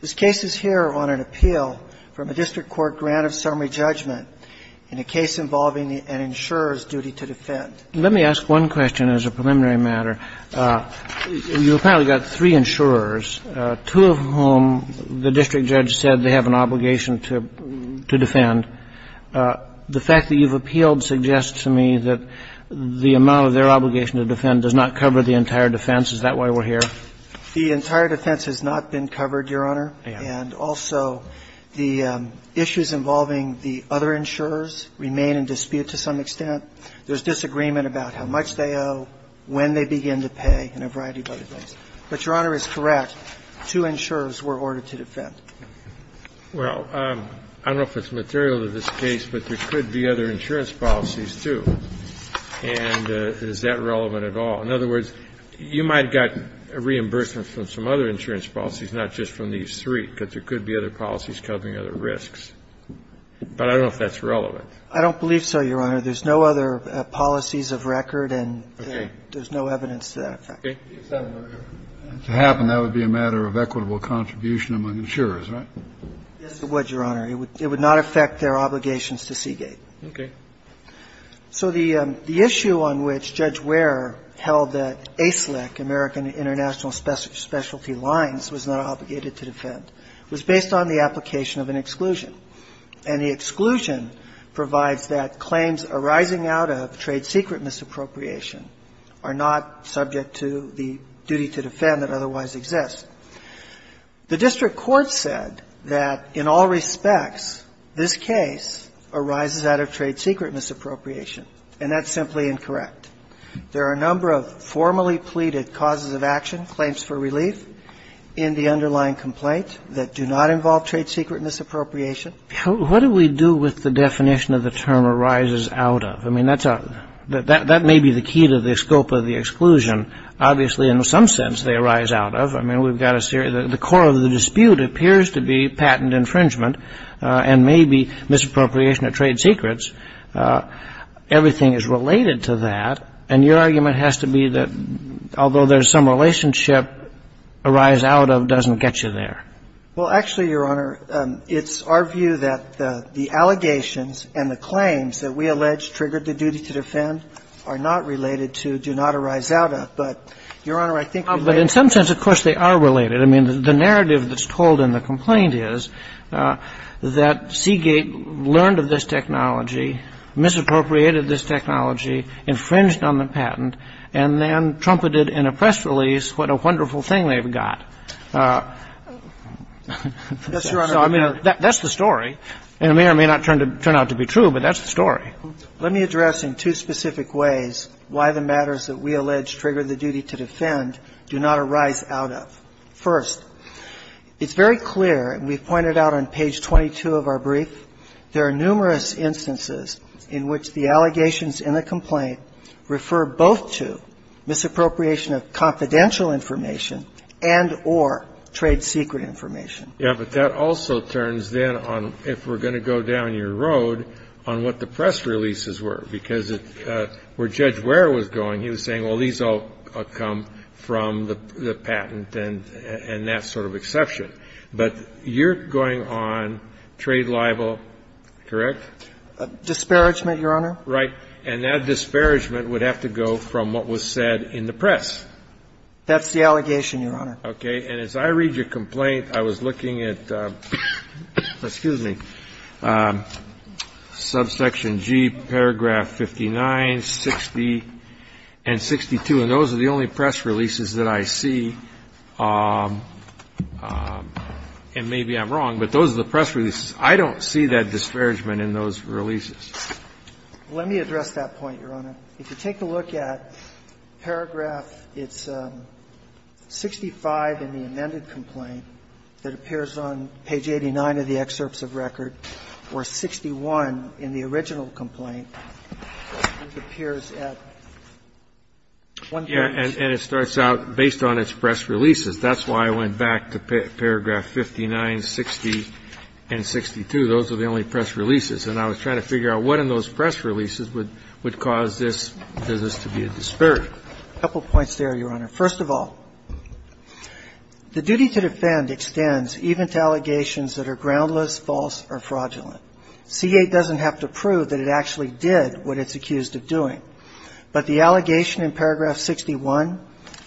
This case is here on an appeal from a district court grant of summary judgment in a case involving an insurer's duty to defend. Let me ask one question as a preliminary matter. You apparently got three insurers, two of whom the district judge said they have an obligation to protect the insurer. Is that correct? That's correct. The fact that you've appealed suggests to me that the amount of their obligation to defend does not cover the entire defense. Is that why we're here? The entire defense has not been covered, Your Honor. And also, the issues involving the other insurers remain in dispute to some extent. There's disagreement about how much they owe, when they begin to pay, and a variety of other things. Two insurers were ordered to defend. Well, I don't know if it's material to this case, but there could be other insurance policies, too. And is that relevant at all? In other words, you might have got reimbursement from some other insurance policies, not just from these three, because there could be other policies covering other risks. But I don't know if that's relevant. I don't believe so, Your Honor. There's no other policies of record, and there's no evidence to that effect. Okay. If that were to happen, that would be a matter of equitable contribution among insurers, right? Yes, it would, Your Honor. It would not affect their obligations to Seagate. Okay. So the issue on which Judge Ware held that ASIC, American International Specialty Lines, was not obligated to defend, was based on the application of an exclusion. And the exclusion provides that claims arising out of trade secret misappropriation are not subject to the duty to defend that otherwise exists. The district court said that in all respects, this case arises out of trade secret misappropriation, and that's simply incorrect. There are a number of formally pleaded causes of action, claims for relief, in the underlying complaint that do not involve trade secret misappropriation. What do we do with the definition of the term arises out of? I mean, that's a — that may be the key to the scope of the exclusion. Obviously, in some sense, they arise out of. I mean, we've got a — the core of the dispute appears to be patent infringement and maybe misappropriation of trade secrets. Everything is related to that, and your argument has to be that although there's some relationship, arise out of doesn't get you there. Well, actually, Your Honor, it's our view that the allegations and the claims that we allege triggered the duty to defend are not related to do not arise out of. But, Your Honor, I think we'd like to — But in some sense, of course, they are related. I mean, the narrative that's told in the complaint is that Seagate learned of this technology, misappropriated this technology, infringed on the patent, and then trumpeted in a press release what a wonderful thing they've got. That's the story, and it may or may not turn out to be true, but that's the story. Let me address in two specific ways why the matters that we allege trigger the duty to defend do not arise out of. First, it's very clear, and we've pointed out on page 22 of our brief, there are numerous instances in which the allegations in the complaint refer both to misappropriation of confidential information and or trade secret information. Yeah, but that also turns then on, if we're going to go down your road, on what the press releases were, because where Judge Ware was going, he was saying, well, these all come from the patent and that sort of exception. But you're going on trade libel, correct? Disparagement, Your Honor. Right. And that disparagement would have to go from what was said in the press. That's the allegation, Your Honor. Okay. And as I read your complaint, I was looking at, excuse me, subsection G, paragraph 59, 60, and 62, and those are the only press releases that I see. And maybe I'm wrong, but those are the press releases. I don't see that disparagement in those releases. Let me address that point, Your Honor. If you take a look at paragraph 65 in the amended complaint that appears on page 89 of the excerpts of record, or 61 in the original complaint, it appears at one page. Yeah, and it starts out based on its press releases. That's why I went back to paragraph 59, 60, and 62. Those are the only press releases. And I was trying to figure out what in those press releases would cause this business to be a disparagement. A couple points there, Your Honor. First of all, the duty to defend extends even to allegations that are groundless, false, or fraudulent. Seagate doesn't have to prove that it actually did what it's accused of doing. But the allegation in paragraph 61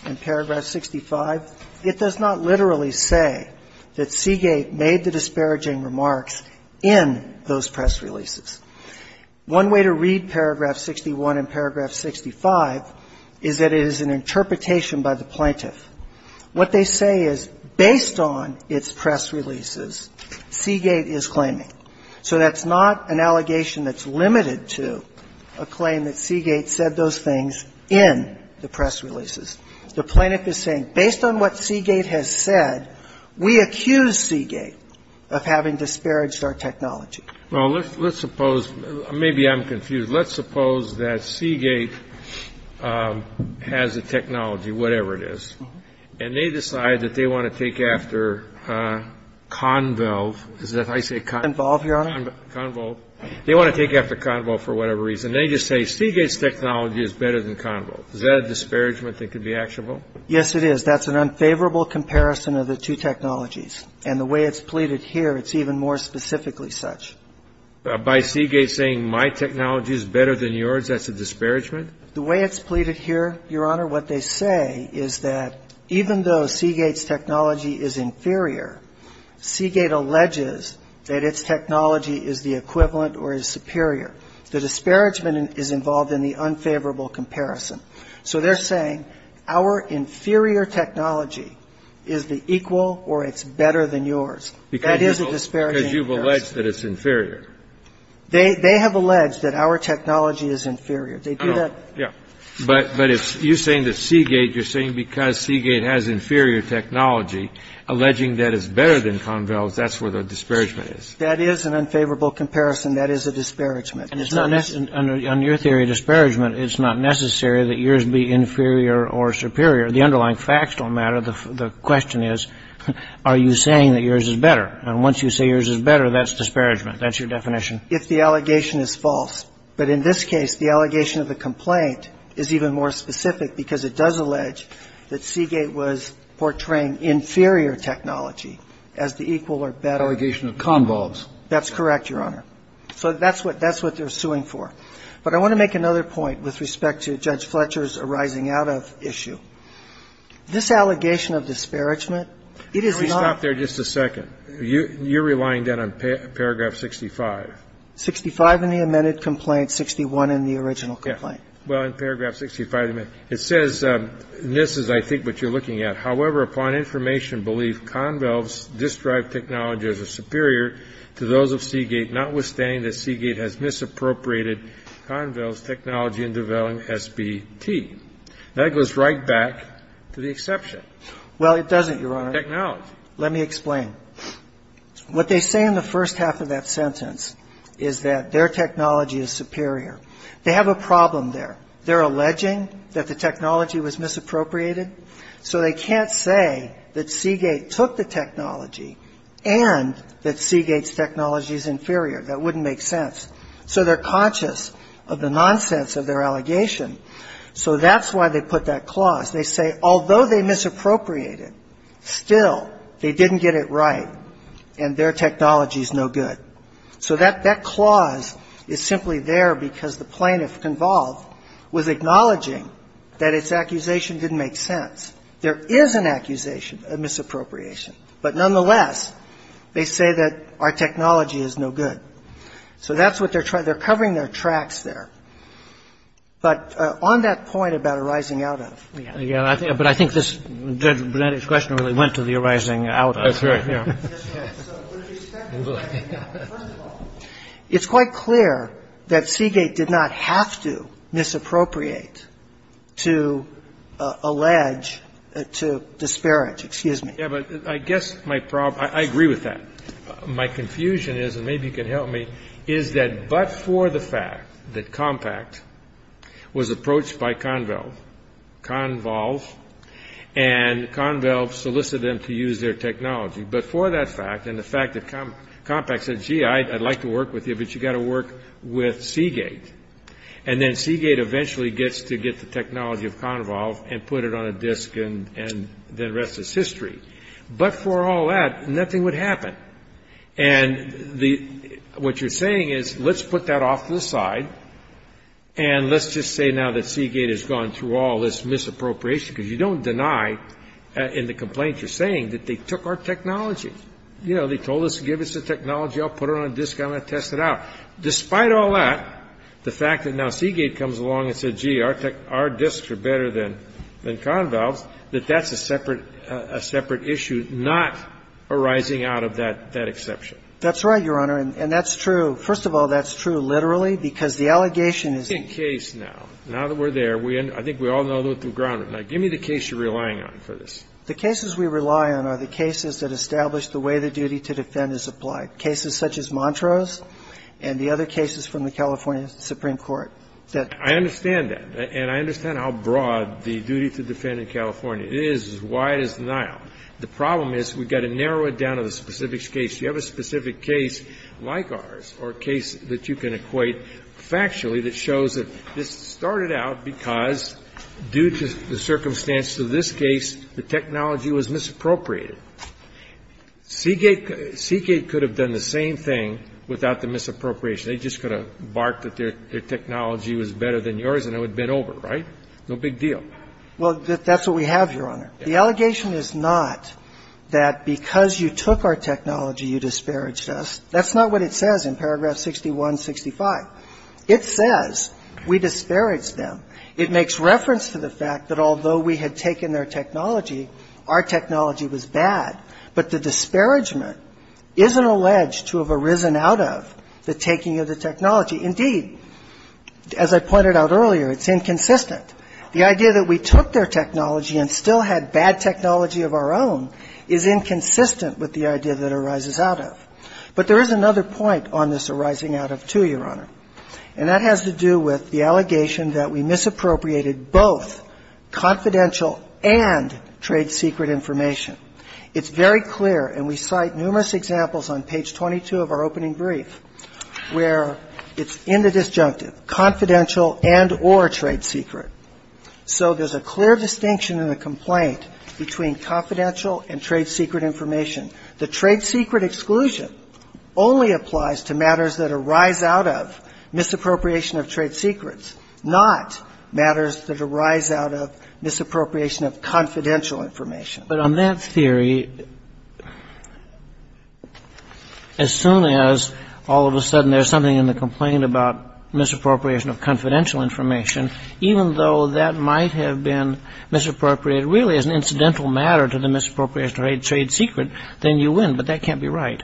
and paragraph 65, it does not literally say that in those press releases. One way to read paragraph 61 and paragraph 65 is that it is an interpretation by the plaintiff. What they say is, based on its press releases, Seagate is claiming. So that's not an allegation that's limited to a claim that Seagate said those things in the press releases. The plaintiff is saying, based on what Seagate has said, we accuse Seagate of having disparaged our technology. Well, let's suppose, maybe I'm confused, let's suppose that Seagate has a technology, whatever it is, and they decide that they want to take after Convalve. Is that how you say it? Convalve, Your Honor. Convalve. They want to take after Convalve for whatever reason. They just say, Seagate's technology is better than Convalve. Is that a disparagement that could be actionable? Yes, it is. That's an unfavorable comparison of the two technologies. And the way it's pleaded here, it's even more specifically such. By Seagate saying my technology is better than yours, that's a disparagement? The way it's pleaded here, Your Honor, what they say is that even though Seagate's technology is inferior, Seagate alleges that its technology is the equivalent or is superior. The disparagement is involved in the unfavorable comparison. So they're saying our inferior technology is the equal or it's better than yours. That is a disparaging comparison. Because you've alleged that it's inferior. They have alleged that our technology is inferior. They do that. Yeah. But you're saying that Seagate, you're saying because Seagate has inferior technology, alleging that it's better than Convalve, that's where the disparagement is. That is an unfavorable comparison. That is a disparagement. On your theory of disparagement, it's not necessary that yours be inferior or superior. The underlying facts don't matter. The question is, are you saying that yours is better? And once you say yours is better, that's disparagement. That's your definition. If the allegation is false. But in this case, the allegation of the complaint is even more specific because it does allege that Seagate was portraying inferior technology as the equal or better. Allegation of Convalve. That's correct, Your Honor. So that's what they're suing for. But I want to make another point with respect to Judge Fletcher's arising out of issue. This allegation of disparagement, it is not. Let me stop there just a second. You're relying then on paragraph 65. 65 in the amended complaint, 61 in the original complaint. Yeah. Well, in paragraph 65, it says, and this is, I think, what you're looking at. Let me explain. What they say in the first half of that sentence is that their technology is superior. They have a problem there. They're alleging that the technology was misappropriated. So they can't say that Seagate took the technology and that Seagate's technology is inferior. That wouldn't make sense. So they're conscious of the nonsense of their allegation. So that's why they put that clause. They say, although they misappropriated, still, they didn't get it right and their technology is no good. So that clause is simply there because the plaintiff, Convalve, was acknowledging that its accusation didn't make sense. There is an accusation of misappropriation. But nonetheless, they say that our technology is no good. So that's what they're trying to do. They're covering their tracks there. But on that point about arising out of. Yeah. But I think this, Judge Brunetti's question really went to the arising out of. That's right. Yeah. First of all, it's quite clear that Seagate did not have to misappropriate to allege, to disparage. Excuse me. Yeah, but I guess my problem, I agree with that. My confusion is, and maybe you can help me, is that but for the fact that Compact was approached by Convalve, and Convalve solicited them to use their technology, but for that fact, and the fact that Compact said, gee, I'd like to work with you, but you've got to work with Seagate. And then Seagate eventually gets to get the technology of Convalve and put it on a disk and then the rest is history. But for all that, nothing would happen. And what you're saying is, let's put that off to the side and let's just say now that Seagate has gone through all this misappropriation, because you don't deny in the complaint you're saying that they took our technology. You know, they told us to give us the technology. I'll put it on a disk. I'm going to test it out. Despite all that, the fact that now Seagate comes along and says, gee, our disks are better than Convalve's, that that's a separate issue not arising out of that exception. That's right, Your Honor. And that's true. First of all, that's true literally because the allegation is in case now. Now that we're there, I think we all know the ground. Now, give me the case you're relying on for this. The cases we rely on are the cases that establish the way the duty to defend is applied, cases such as Montrose and the other cases from the California Supreme Court. I understand that. And I understand how broad the duty to defend in California is, why it is now. The problem is we've got to narrow it down to the specifics case. You have a specific case like ours or a case that you can equate factually that shows that this started out because due to the circumstances of this case, the technology was misappropriated. Seagate could have done the same thing without the misappropriation. They just could have barked that their technology was better than yours and it would have been over, right? No big deal. Well, that's what we have, Your Honor. The allegation is not that because you took our technology, you disparaged us. That's not what it says in paragraph 6165. It says we disparaged them. It makes reference to the fact that although we had taken their technology, our technology was bad. But the disparagement isn't alleged to have arisen out of the taking of the technology. Indeed, as I pointed out earlier, it's inconsistent. The idea that we took their technology and still had bad technology of our own is inconsistent with the idea that arises out of. But there is another point on this arising out of, too, Your Honor. And that has to do with the allegation that we misappropriated both confidential and trade secret information. It's very clear, and we cite numerous examples on page 22 of our opening brief, where it's in the disjunctive, confidential and or trade secret. So there's a clear distinction in the complaint between confidential and trade secret information. The trade secret exclusion only applies to matters that arise out of misappropriation of trade secrets, not matters that arise out of misappropriation of confidential information. But on that theory, as soon as all of a sudden there's something in the complaint about misappropriation of confidential information, even though that might have been misappropriated really as an incidental matter to the misappropriation of trade secret, then you win. But that can't be right.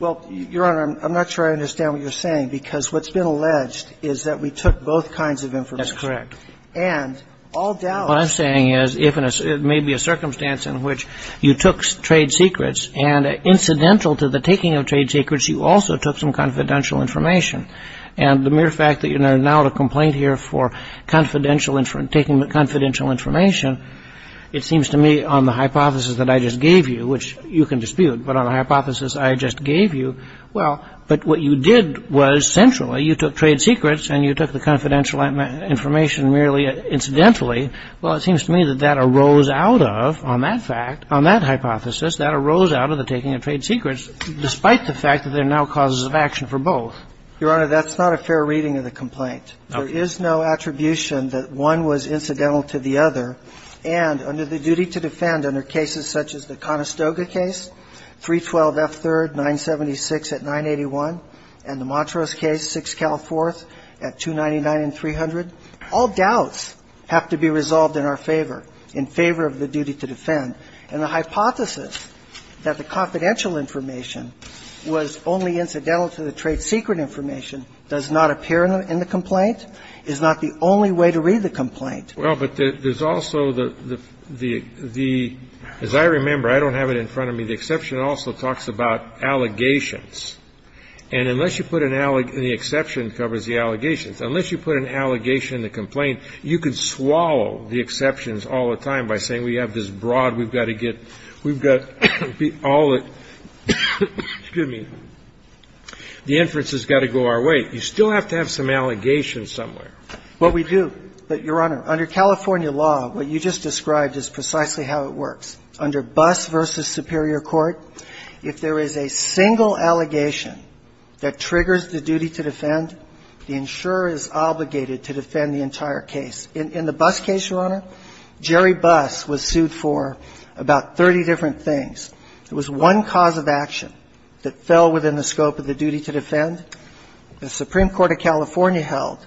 Well, Your Honor, I'm not sure I understand what you're saying, because what's been alleged is that we took both kinds of information. That's correct. And all doubt. What I'm saying is if it may be a circumstance in which you took trade secrets and incidental to the taking of trade secrets, you also took some confidential information. And the mere fact that you're now at a complaint here for confidential information, taking the confidential information, it seems to me on the hypothesis that I just gave you, which you can dispute, but on the hypothesis I just gave you, well, but what you did was centrally you took trade secrets and you took the confidential information merely incidentally. Well, it seems to me that that arose out of, on that fact, on that hypothesis, that arose out of the taking of trade secrets, despite the fact that there are now causes of action for both. Your Honor, that's not a fair reading of the complaint. There is no attribution that one was incidental to the other. And under the duty to defend under cases such as the Conestoga case, 312 F. 3rd, 976 at 981, and the Montrose case, 6 Cal 4th, at 299 and 300, all doubts have to be resolved in our favor, in favor of the duty to defend. And the hypothesis that the confidential information was only incidental to the trade secret information does not appear in the complaint, is not the only way to read the complaint. Well, but there's also the, as I remember, I don't have it in front of me, the exception also talks about allegations. And unless you put an, and the exception covers the allegations, unless you put an allegation in the complaint, you could swallow the exceptions all the time by saying we have this broad, we've got to get, we've got all the, excuse me, the inferences have got to go our way. You still have to have some allegations somewhere. Well, we do. But, Your Honor, under California law, what you just described is precisely how it works. Under Buss v. Superior Court, if there is a single allegation that triggers the duty to defend, the insurer is obligated to defend the entire case. In the Buss case, Your Honor, Jerry Buss was sued for about 30 different things. It was one cause of action that fell within the scope of the duty to defend. The Supreme Court of California held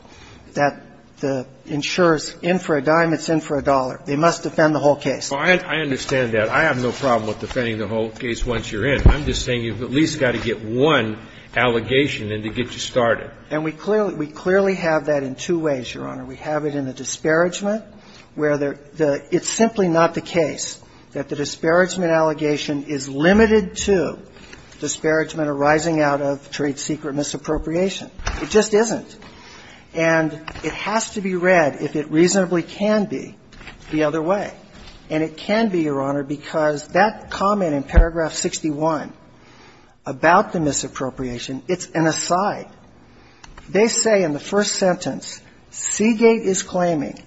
that the insurer's in for a dime, it's in for a dollar. They must defend the whole case. Well, I understand that. I have no problem with defending the whole case once you're in. I'm just saying you've at least got to get one allegation in to get you started. And we clearly have that in two ways, Your Honor. We have it in the disparagement, where it's simply not the case that the disparagement allegation is limited to disparagement arising out of trade secret misappropriation. It just isn't. And it has to be read, if it reasonably can be, the other way. And it can be, Your Honor, because that comment in paragraph 61 about the misappropriation, it's an aside. They say in the first sentence, Seagate is claiming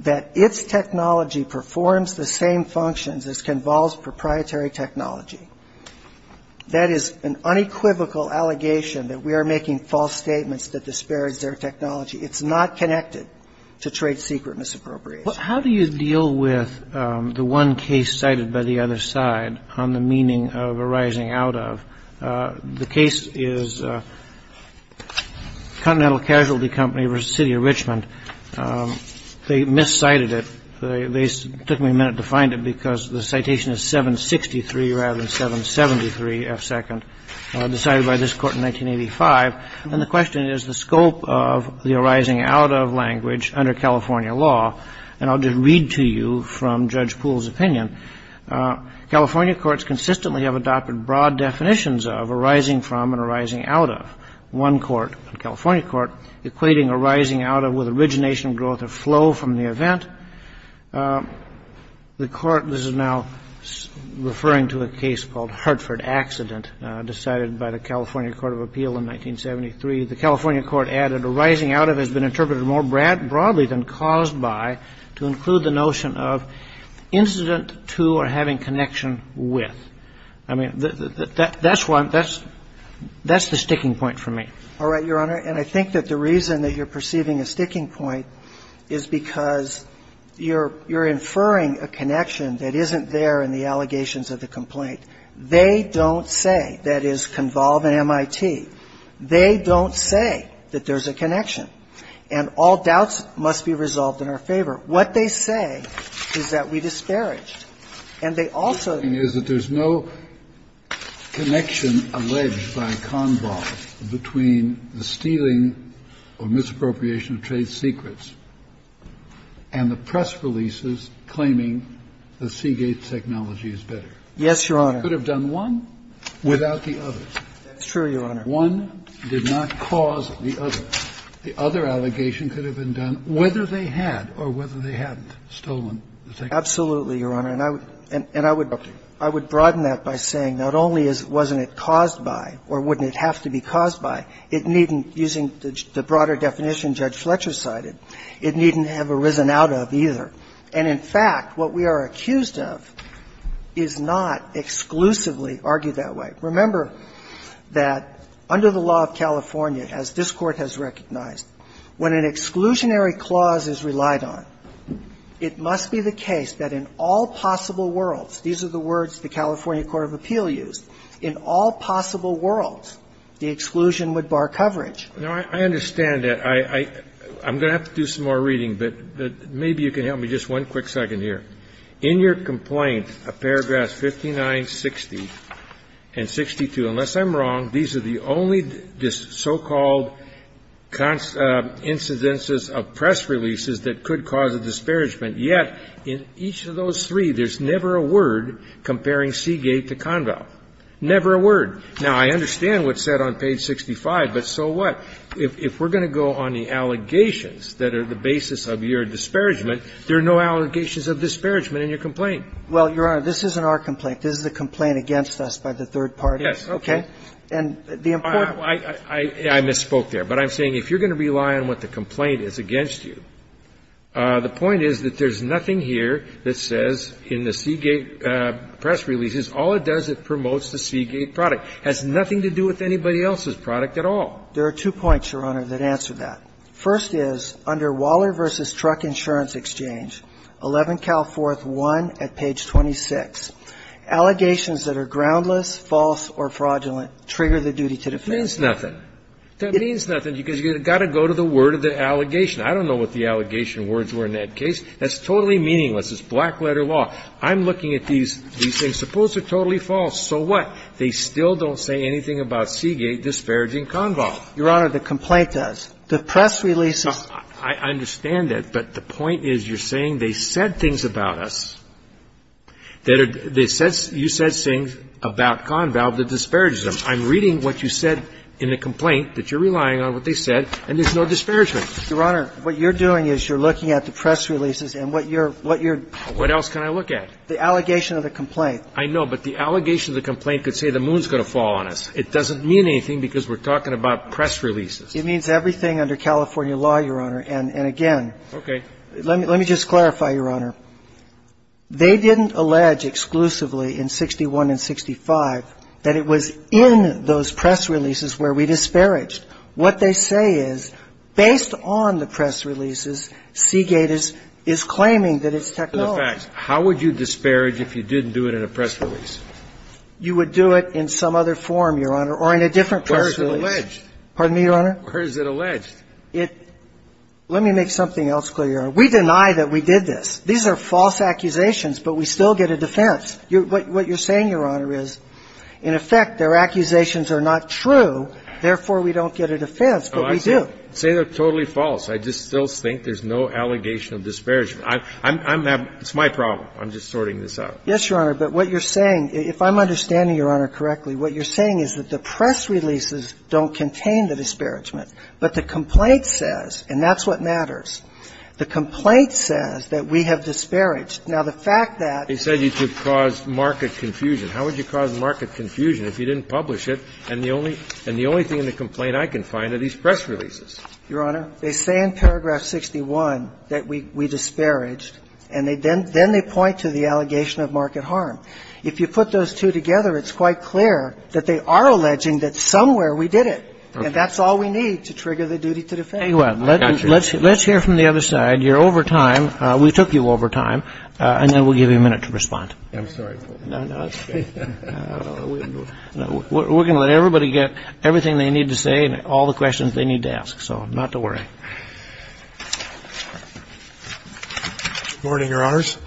that its technology performs the same functions as Conval's proprietary technology. That is an unequivocal allegation that we are making false statements that disparage their technology. It's not connected to trade secret misappropriation. Well, how do you deal with the one case cited by the other side on the meaning of arising out of? The case is Continental Casualty Company v. City of Richmond. They miscited it. They took me a minute to find it because the citation is 763 rather than 773F2, decided by this Court in 1985. And the question is the scope of the arising out of language under California law. And I'll just read to you from Judge Poole's opinion. California courts consistently have adopted broad definitions of arising from and arising out of. One court, the California court, equating arising out of with origination, growth, or flow from the event. The court is now referring to a case called Hartford Accident, decided by the California Court of Appeal in 1973. The California court added arising out of has been interpreted more broadly than caused by to include the notion of incident to or having connection with. I mean, that's one. That's the sticking point for me. All right, Your Honor. And I think that the reason that you're perceiving a sticking point is because you're inferring a connection that isn't there in the allegations of the complaint. They don't say, that is, Convolve and MIT. They don't say that there's a connection. And all doubts must be resolved in our favor. What they say is that we disparaged. And they also ---- Kennedy, is that there's no connection alleged by Convolve between the stealing or misappropriation of trade secrets and the press releases claiming the Seagate technology is better. Yes, Your Honor. You could have done one without the others. That's true, Your Honor. One did not cause the other. The other allegation could have been done whether they had or whether they hadn't stolen the technology. Absolutely, Your Honor. And I would broaden that by saying not only wasn't it caused by or wouldn't it have to be caused by, it needn't, using the broader definition Judge Fletcher cited, it needn't have arisen out of either. And in fact, what we are accused of is not exclusively argued that way. Remember that under the law of California, as this Court has recognized, when an exclusionary clause is relied on, it must be the case that in all possible worlds, these are the words the California Court of Appeal used, in all possible worlds, the exclusion would bar coverage. Now, I understand that. I'm going to have to do some more reading. But maybe you can help me just one quick second here. In your complaint, paragraphs 59, 60, and 62, unless I'm wrong, these are the only so-called incidences of press releases that could cause a disparagement. Yet, in each of those three, there's never a word comparing Seagate to Conval. Never a word. Now, I understand what's said on page 65, but so what? If we're going to go on the allegations that are the basis of your disparagement, there are no allegations of disparagement in your complaint. Well, Your Honor, this isn't our complaint. This is a complaint against us by the third parties. Yes, okay. Okay? And the important one – I misspoke there. But I'm saying if you're going to rely on what the complaint is against you, the point is that there's nothing here that says in the Seagate press releases, all it does, it promotes the Seagate product. It has nothing to do with anybody else's product at all. There are two points, Your Honor, that answer that. First is, under Waller v. Truck Insurance Exchange, 11 Calforth 1 at page 26, allegations that are groundless, false, or fraudulent trigger the duty to defend. It means nothing. That means nothing because you've got to go to the word of the allegation. I don't know what the allegation words were in that case. That's totally meaningless. It's black-letter law. I'm looking at these things. Suppose they're totally false. So what? They still don't say anything about Seagate disparaging Conval. Your Honor, the complaint does. The press releases. I understand that. But the point is you're saying they said things about us that are they said you said things about Conval that disparages them. I'm reading what you said in the complaint that you're relying on what they said, and there's no disparagement. Your Honor, what you're doing is you're looking at the press releases and what you're What else can I look at? The allegation of the complaint. I know, but the allegation of the complaint could say the moon's going to fall on us. It doesn't mean anything because we're talking about press releases. It means everything under California law, Your Honor. And again. Okay. Let me just clarify, Your Honor. They didn't allege exclusively in 61 and 65 that it was in those press releases where we disparaged. What they say is based on the press releases, Seagate is claiming that it's technology. How would you disparage if you didn't do it in a press release? You would do it in some other form, Your Honor, or in a different press release. Where is it alleged? Pardon me, Your Honor? Where is it alleged? Let me make something else clear, Your Honor. We deny that we did this. These are false accusations, but we still get a defense. What you're saying, Your Honor, is, in effect, their accusations are not true. Therefore, we don't get a defense, but we do. Say they're totally false. I just still think there's no allegation of disparagement. It's my problem. I'm just sorting this out. Yes, Your Honor, but what you're saying, if I'm understanding Your Honor correctly, what you're saying is that the press releases don't contain the disparagement, but the complaint says, and that's what matters, the complaint says that we have disparaged. Now, the fact that they said you could cause market confusion, how would you cause market confusion if you didn't publish it, and the only thing in the complaint I can find are these press releases? Your Honor, they say in paragraph 61 that we disparaged, and then they point to the allegation of market harm. If you put those two together, it's quite clear that they are alleging that somewhere we did it, and that's all we need to trigger the duty to defend. Well, let's hear from the other side. You're over time. We took you over time, and then we'll give you a minute to respond. I'm sorry. No, no, it's okay. We're going to let everybody get everything they need to say and all the questions they need to ask, so not to worry. Good morning, Your Honors.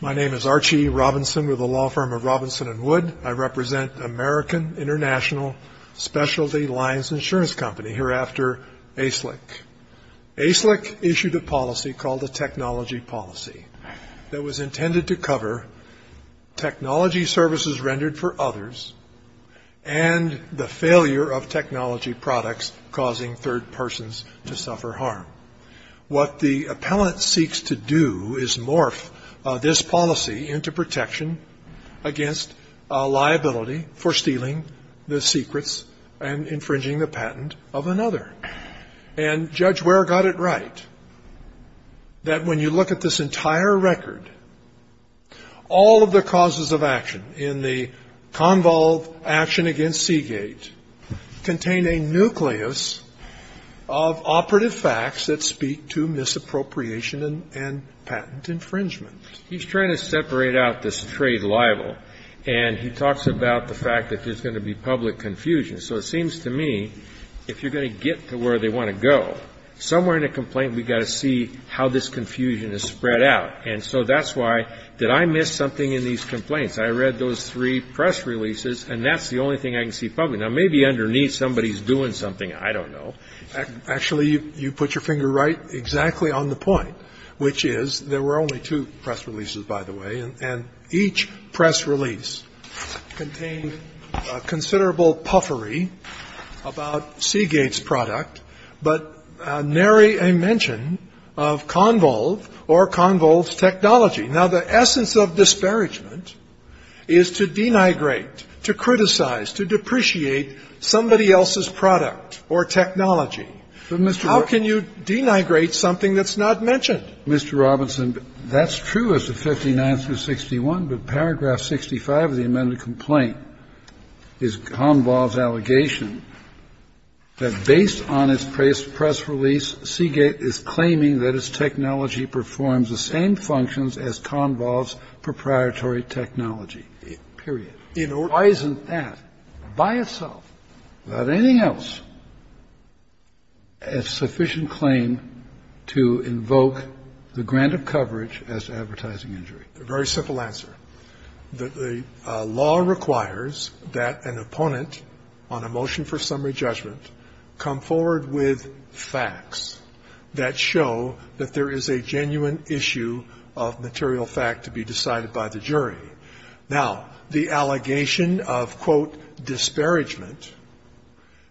My name is Archie Robinson with the law firm of Robinson and Wood. I represent American International Specialty Lines Insurance Company, hereafter ASLIC. ASLIC issued a policy called the Technology Policy that was intended to cover technology services rendered for others and the failure of technology products causing third persons to suffer harm. What the appellant seeks to do is morph this policy into protection against liability for stealing the secrets and infringing the patent of another. And Judge Ware got it right, that when you look at this entire record, all of the actions against Seagate contain a nucleus of operative facts that speak to misappropriation and patent infringement. He's trying to separate out this trade libel, and he talks about the fact that there's going to be public confusion. So it seems to me, if you're going to get to where they want to go, somewhere in a complaint, we've got to see how this confusion is spread out. And so that's why, did I miss something in these complaints? I read those three press releases, and that's the only thing I can see publicly. Now, maybe underneath, somebody's doing something. I don't know. Actually, you put your finger right exactly on the point, which is there were only two press releases, by the way, and each press release contained considerable puffery about Seagate's product, but nary a mention of Convolve or Convolve's technology. Now, the essence of disparagement is to denigrate, to criticize, to depreciate somebody else's product or technology. How can you denigrate something that's not mentioned? Mr. Robinson, that's true as to 59 through 61, but paragraph 65 of the amended complaint is Convolve's allegation that based on its press release, Seagate is claiming that its technology performs the same functions as Convolve's proprietary technology, period. Why isn't that by itself, without anything else, a sufficient claim to invoke the grant of coverage as to advertising injury? A very simple answer. The law requires that an opponent on a motion for summary judgment come forward with facts that show that there is a genuine issue of material fact to be decided by the jury. Now, the allegation of, quote, disparagement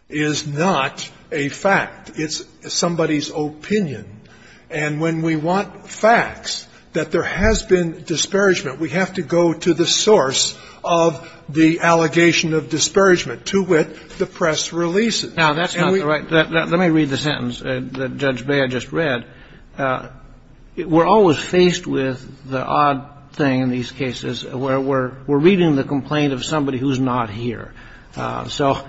is not a fact. It's somebody's opinion. And when we want facts that there has been disparagement, we have to go to the source of the allegation of disparagement to which the press releases. Now, that's not right. Let me read the sentence that Judge Bea just read. We're always faced with the odd thing in these cases where we're reading the complaint of somebody who's not here. So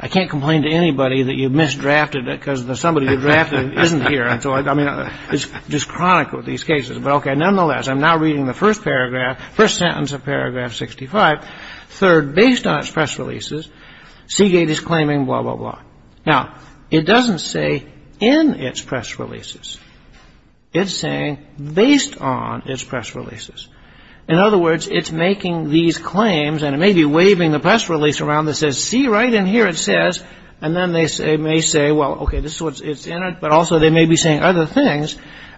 I can't complain to anybody that you misdrafted it because the somebody you drafted isn't here. And so, I mean, it's just chronic with these cases. But, okay, nonetheless, I'm now reading the first paragraph, first sentence of paragraph 65. Third, based on its press releases, Seagate is claiming blah, blah, blah. Now, it doesn't say in its press releases. It's saying based on its press releases. In other words, it's making these claims, and it may be waving the press release around that says, see, right in here it says. And then they may say, well, okay, this is what's in it. But also, they may be saying other things.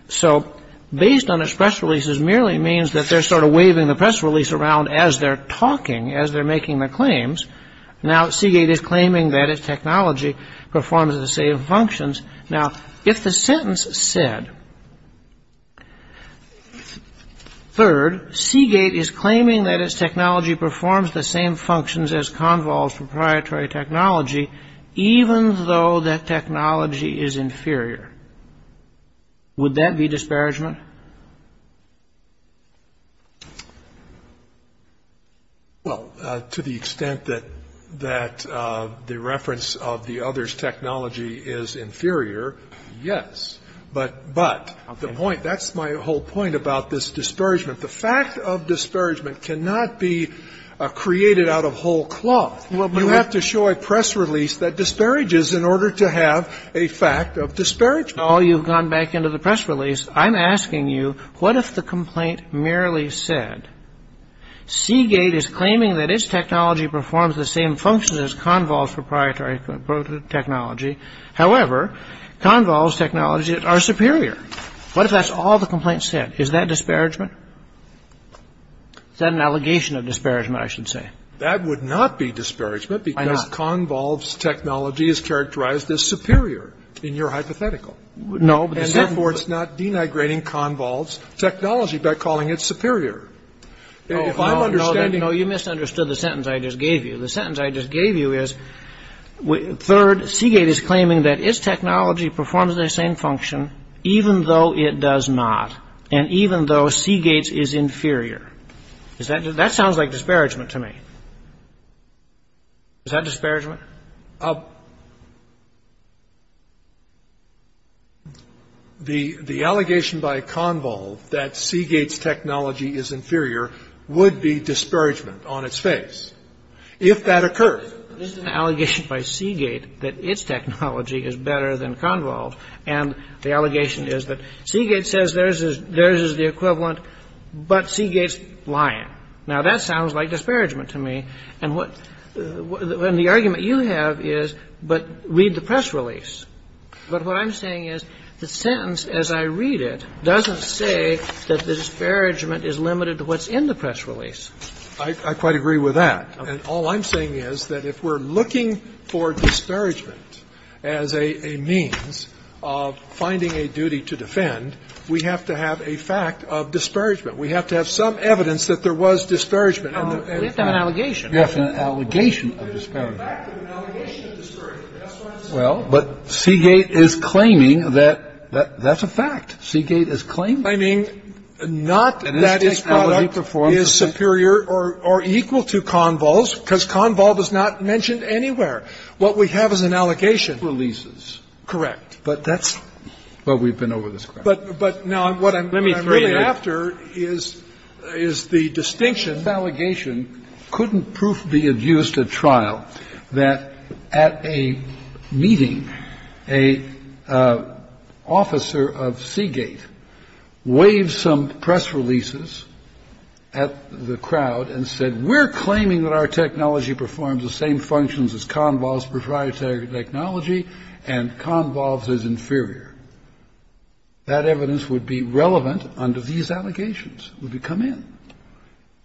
So based on its press releases merely means that they're sort of waving the press release around as they're talking, as they're making the claims. Now, Seagate is claiming that its technology performs the same functions. Now, if the sentence said, third, Seagate is claiming that its technology performs the same functions as Convol's proprietary technology, even though that technology is inferior. Would that be disparagement? Scalia. Well, to the extent that the reference of the other's technology is inferior, yes. But the point, that's my whole point about this disparagement. The fact of disparagement cannot be created out of whole cloth. You have to show a press release that disparages in order to have a fact of disparagement. Kagan. Well, you've gone back into the press release. I'm asking you, what if the complaint merely said, Seagate is claiming that its technology performs the same functions as Convol's proprietary technology. However, Convol's technologies are superior. What if that's all the complaint said? Is that disparagement? Is that an allegation of disparagement, I should say? That would not be disparagement. Why not? Because Convol's technology is characterized as superior in your hypothetical. No. And therefore, it's not denigrating Convol's technology by calling it superior. If I'm understanding. No, you misunderstood the sentence I just gave you. The sentence I just gave you is, third, Seagate is claiming that its technology performs the same function, even though it does not, and even though Seagate's is inferior. That sounds like disparagement to me. Is that disparagement? The allegation by Convol that Seagate's technology is inferior would be disparagement on its face, if that occurred. There's an allegation by Seagate that its technology is better than Convol's, And the allegation is that Seagate says theirs is the equivalent, but Seagate's lying. Now, that sounds like disparagement to me. And what the argument you have is, but read the press release. But what I'm saying is the sentence, as I read it, doesn't say that the disparagement is limited to what's in the press release. I quite agree with that. And all I'm saying is that if we're looking for disparagement as a means of finding a duty to defend, we have to have a fact of disparagement. We have to have some evidence that there was disparagement. We have to have an allegation. Yes, an allegation of disparagement. Well, but Seagate is claiming that that's a fact. Seagate is claiming. I mean, not that its product is superior or equal to Convol's, because Convol does not mention anywhere. What we have is an allegation. Correct. But that's what we've been over this course. But now what I'm really after is the distinction. And that's what I'm trying to get at. I'm trying to get at the fact that this allegation couldn't proof be adduced at trial, that at a meeting, an officer of Seagate waved some press releases at the crowd and said, we're claiming that our technology performs the same functions as Convol's proprietary technology and Convol's is inferior. That evidence would be relevant under these allegations. It would come in.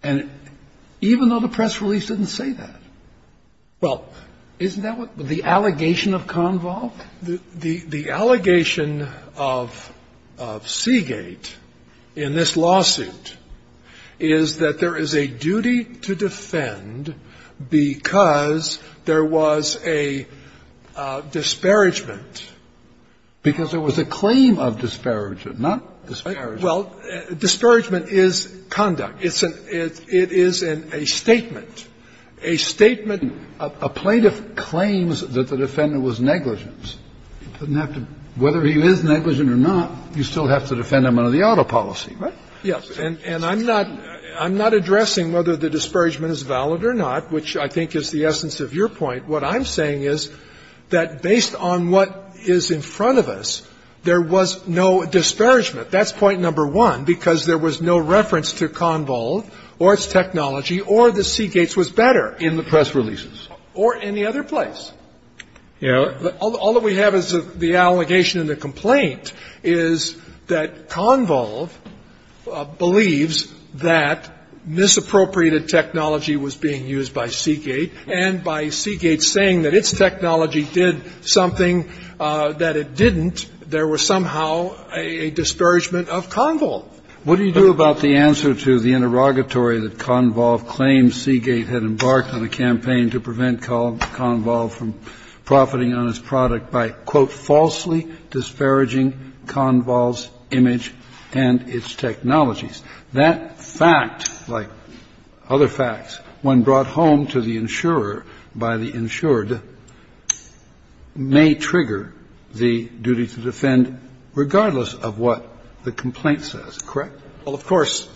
And even though the press release didn't say that, well, isn't that what the allegation of Convol? The allegation of Seagate in this lawsuit is that there is a duty to defend because there was a disparagement. Because there was a claim of disparagement, not disparagement. Well, disparagement is conduct. It is a statement. A statement. A plaintiff claims that the defendant was negligent. Doesn't have to be. Whether he is negligent or not, you still have to defend him under the auto policy, right? Yes. And I'm not addressing whether the disparagement is valid or not, which I think is the essence of your point. What I'm saying is that based on what is in front of us, there was no disparagement. That's point number one, because there was no reference to Convol or its technology or that Seagate's was better in the press releases or any other place. All that we have is the allegation and the complaint is that Convol believes that this appropriated technology was being used by Seagate and by Seagate saying that its technology did something that it didn't, there was somehow a disparagement of Convol. What do you do about the answer to the interrogatory that Convol claims Seagate had embarked on a campaign to prevent Convol from profiting on its product by, quote, falsely disparaging Convol's image and its technologies? That fact, like other facts, when brought home to the insurer by the insured, may trigger the duty to defend regardless of what the complaint says, correct? Well, of course.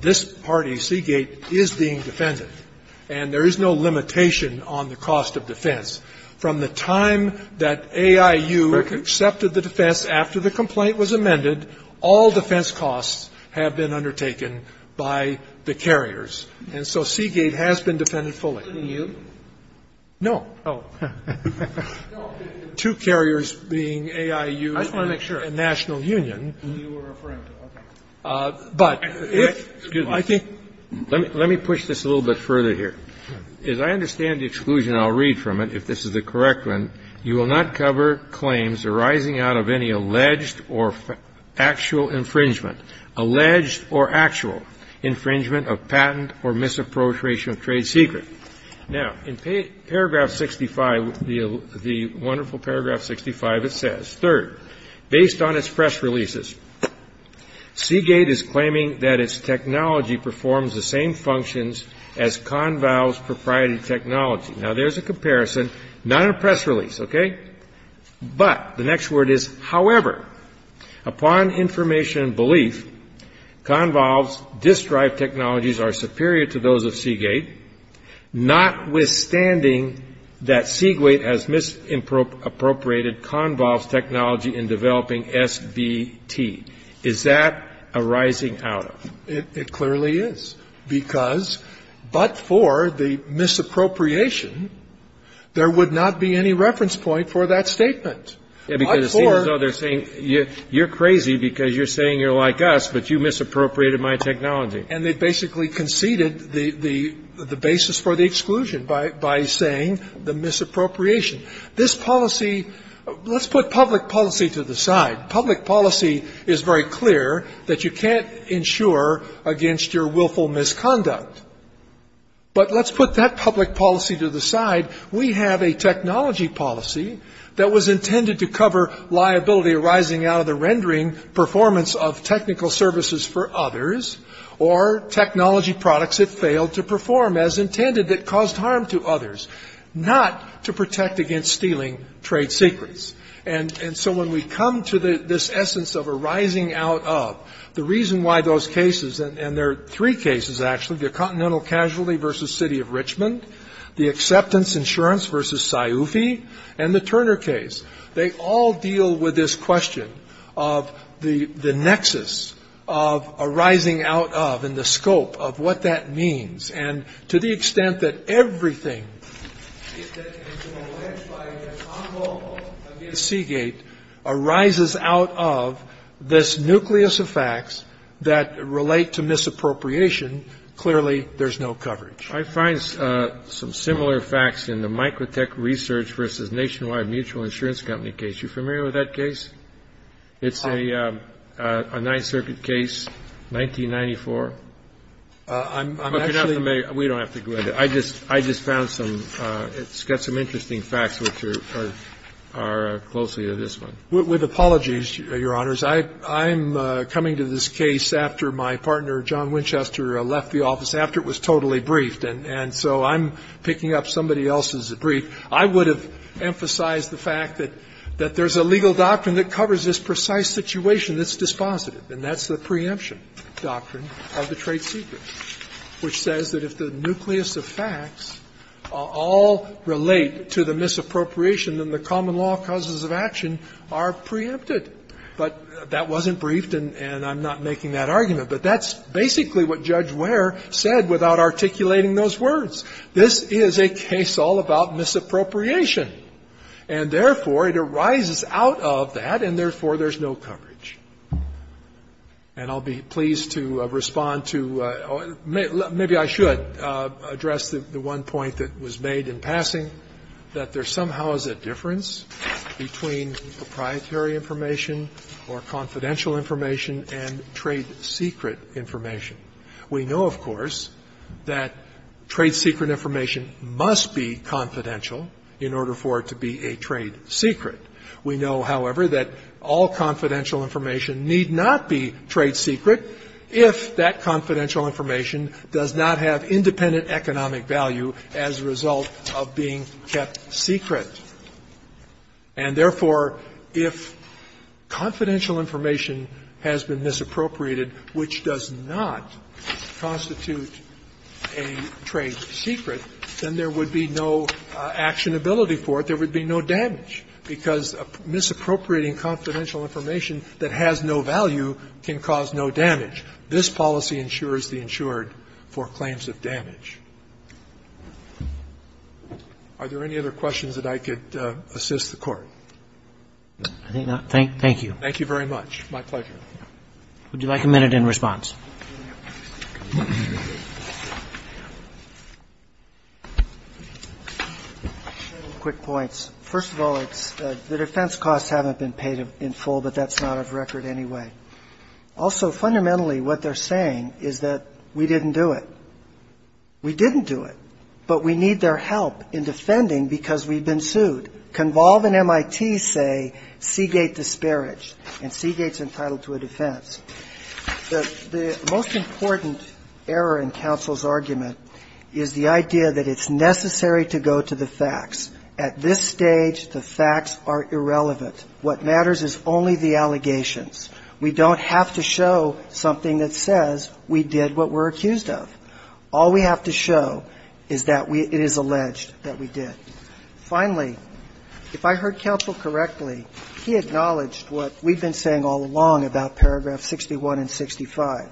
This party, Seagate, is being defended, and there is no limitation on the cost of defense. From the time that AIU accepted the defense after the complaint was amended, all defense costs have been undertaken by the carriers. And so Seagate has been defended fully. No. Two carriers being AIU and National Union. But if I think Let me push this a little bit further here. As I understand the exclusion, I'll read from it, if this is the correct one. You will not cover claims arising out of any alleged or actual infringement. Alleged or actual infringement of patent or misappropriation of trade secret. Now, in paragraph 65, the wonderful paragraph 65, it says, third, based on its press releases, Seagate is claiming that its technology performs the same functions as Conval's proprietary technology. Now, there's a comparison, not in a press release, okay? But the next word is, however, upon information and belief, Conval's disk drive technologies are superior to those of Seagate, notwithstanding that Seagate has misappropriated Conval's technology in developing SBT. Is that arising out of? It clearly is. Because but for the misappropriation, there would not be any reference point for that statement. But for. Because it seems as though they're saying, you're crazy because you're saying you're like us, but you misappropriated my technology. And they basically conceded the basis for the exclusion by saying the misappropriation. This policy, let's put public policy to the side. Public policy is very clear that you can't insure against your willful misconduct. But let's put that public policy to the side. We have a technology policy that was intended to cover liability arising out of the rendering performance of technical services for others or technology products that failed to perform as intended that caused harm to others, not to protect against stealing trade secrets. And so when we come to this essence of arising out of, the reason why those cases and there are three cases actually, the Continental Casualty v. City of Richmond, the Acceptance Insurance v. Sciufi, and the Turner case, they all deal with this question of the nexus of arising out of and the scope of what that means. And to the extent that everything that can be identified as unlawful against Seagate arises out of this nucleus of facts that relate to misappropriation, clearly there's no coverage. I find some similar facts in the Microtech Research v. Nationwide Mutual Insurance Company case. Are you familiar with that case? It's a Ninth Circuit case, 1994. But you don't have to make, we don't have to go into it. I just found some, it's got some interesting facts which are closely to this one. With apologies, Your Honors. I'm coming to this case after my partner, John Winchester, left the office, after it was totally briefed, and so I'm picking up somebody else's brief. I would have emphasized the fact that there's a legal doctrine that covers this precise situation that's dispositive, and that's the preemption doctrine of the trade secret, which says that if the nucleus of facts all relate to the misappropriation, then the common law causes of action are preempted. But that wasn't briefed, and I'm not making that argument. But that's basically what Judge Ware said without articulating those words. This is a case all about misappropriation. And therefore, it arises out of that, and therefore, there's no coverage. And I'll be pleased to respond to or maybe I should address the one point that was made in passing, that there somehow is a difference between proprietary information or confidential information and trade secret information. We know, of course, that trade secret information must be confidential in order for it to be a trade secret. We know, however, that all confidential information need not be trade secret if that confidential information does not have independent economic value as a result of being kept secret. And therefore, if confidential information has been misappropriated, which does not constitute a trade secret, then there would be no actionability for it. There would be no damage, because misappropriating confidential information that has no value can cause no damage. This policy insures the insured for claims of damage. Are there any other questions that I could assist the Court? Roberts, I think not. Thank you. Thank you very much. My pleasure. Would you like a minute in response? I have a couple of quick points. First of all, it's the defense costs haven't been paid in full, but that's not of record anyway. Also, fundamentally, what they're saying is that we didn't do it. We didn't do it, but we need their help in defending because we've been sued. Convolve and MIT say Seagate disparaged, and Seagate's entitled to a defense. The most important error in counsel's argument is the idea that it's necessary to go to the facts. At this stage, the facts are irrelevant. What matters is only the allegations. We don't have to show something that says we did what we're accused of. All we have to show is that it is alleged that we did. Finally, if I heard counsel correctly, he acknowledged what we've been saying all along about paragraph 61 and 65,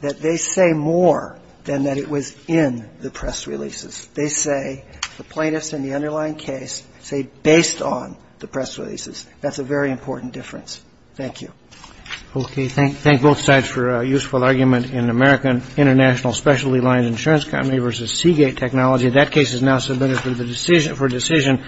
that they say more than that it was in the press releases. They say, the plaintiffs in the underlying case, say based on the press releases. That's a very important difference. Thank you. OK. Thank both sides for a useful argument in American International Specialty Lined Insurance Company versus Seagate Technology. That case is now submitted for decision.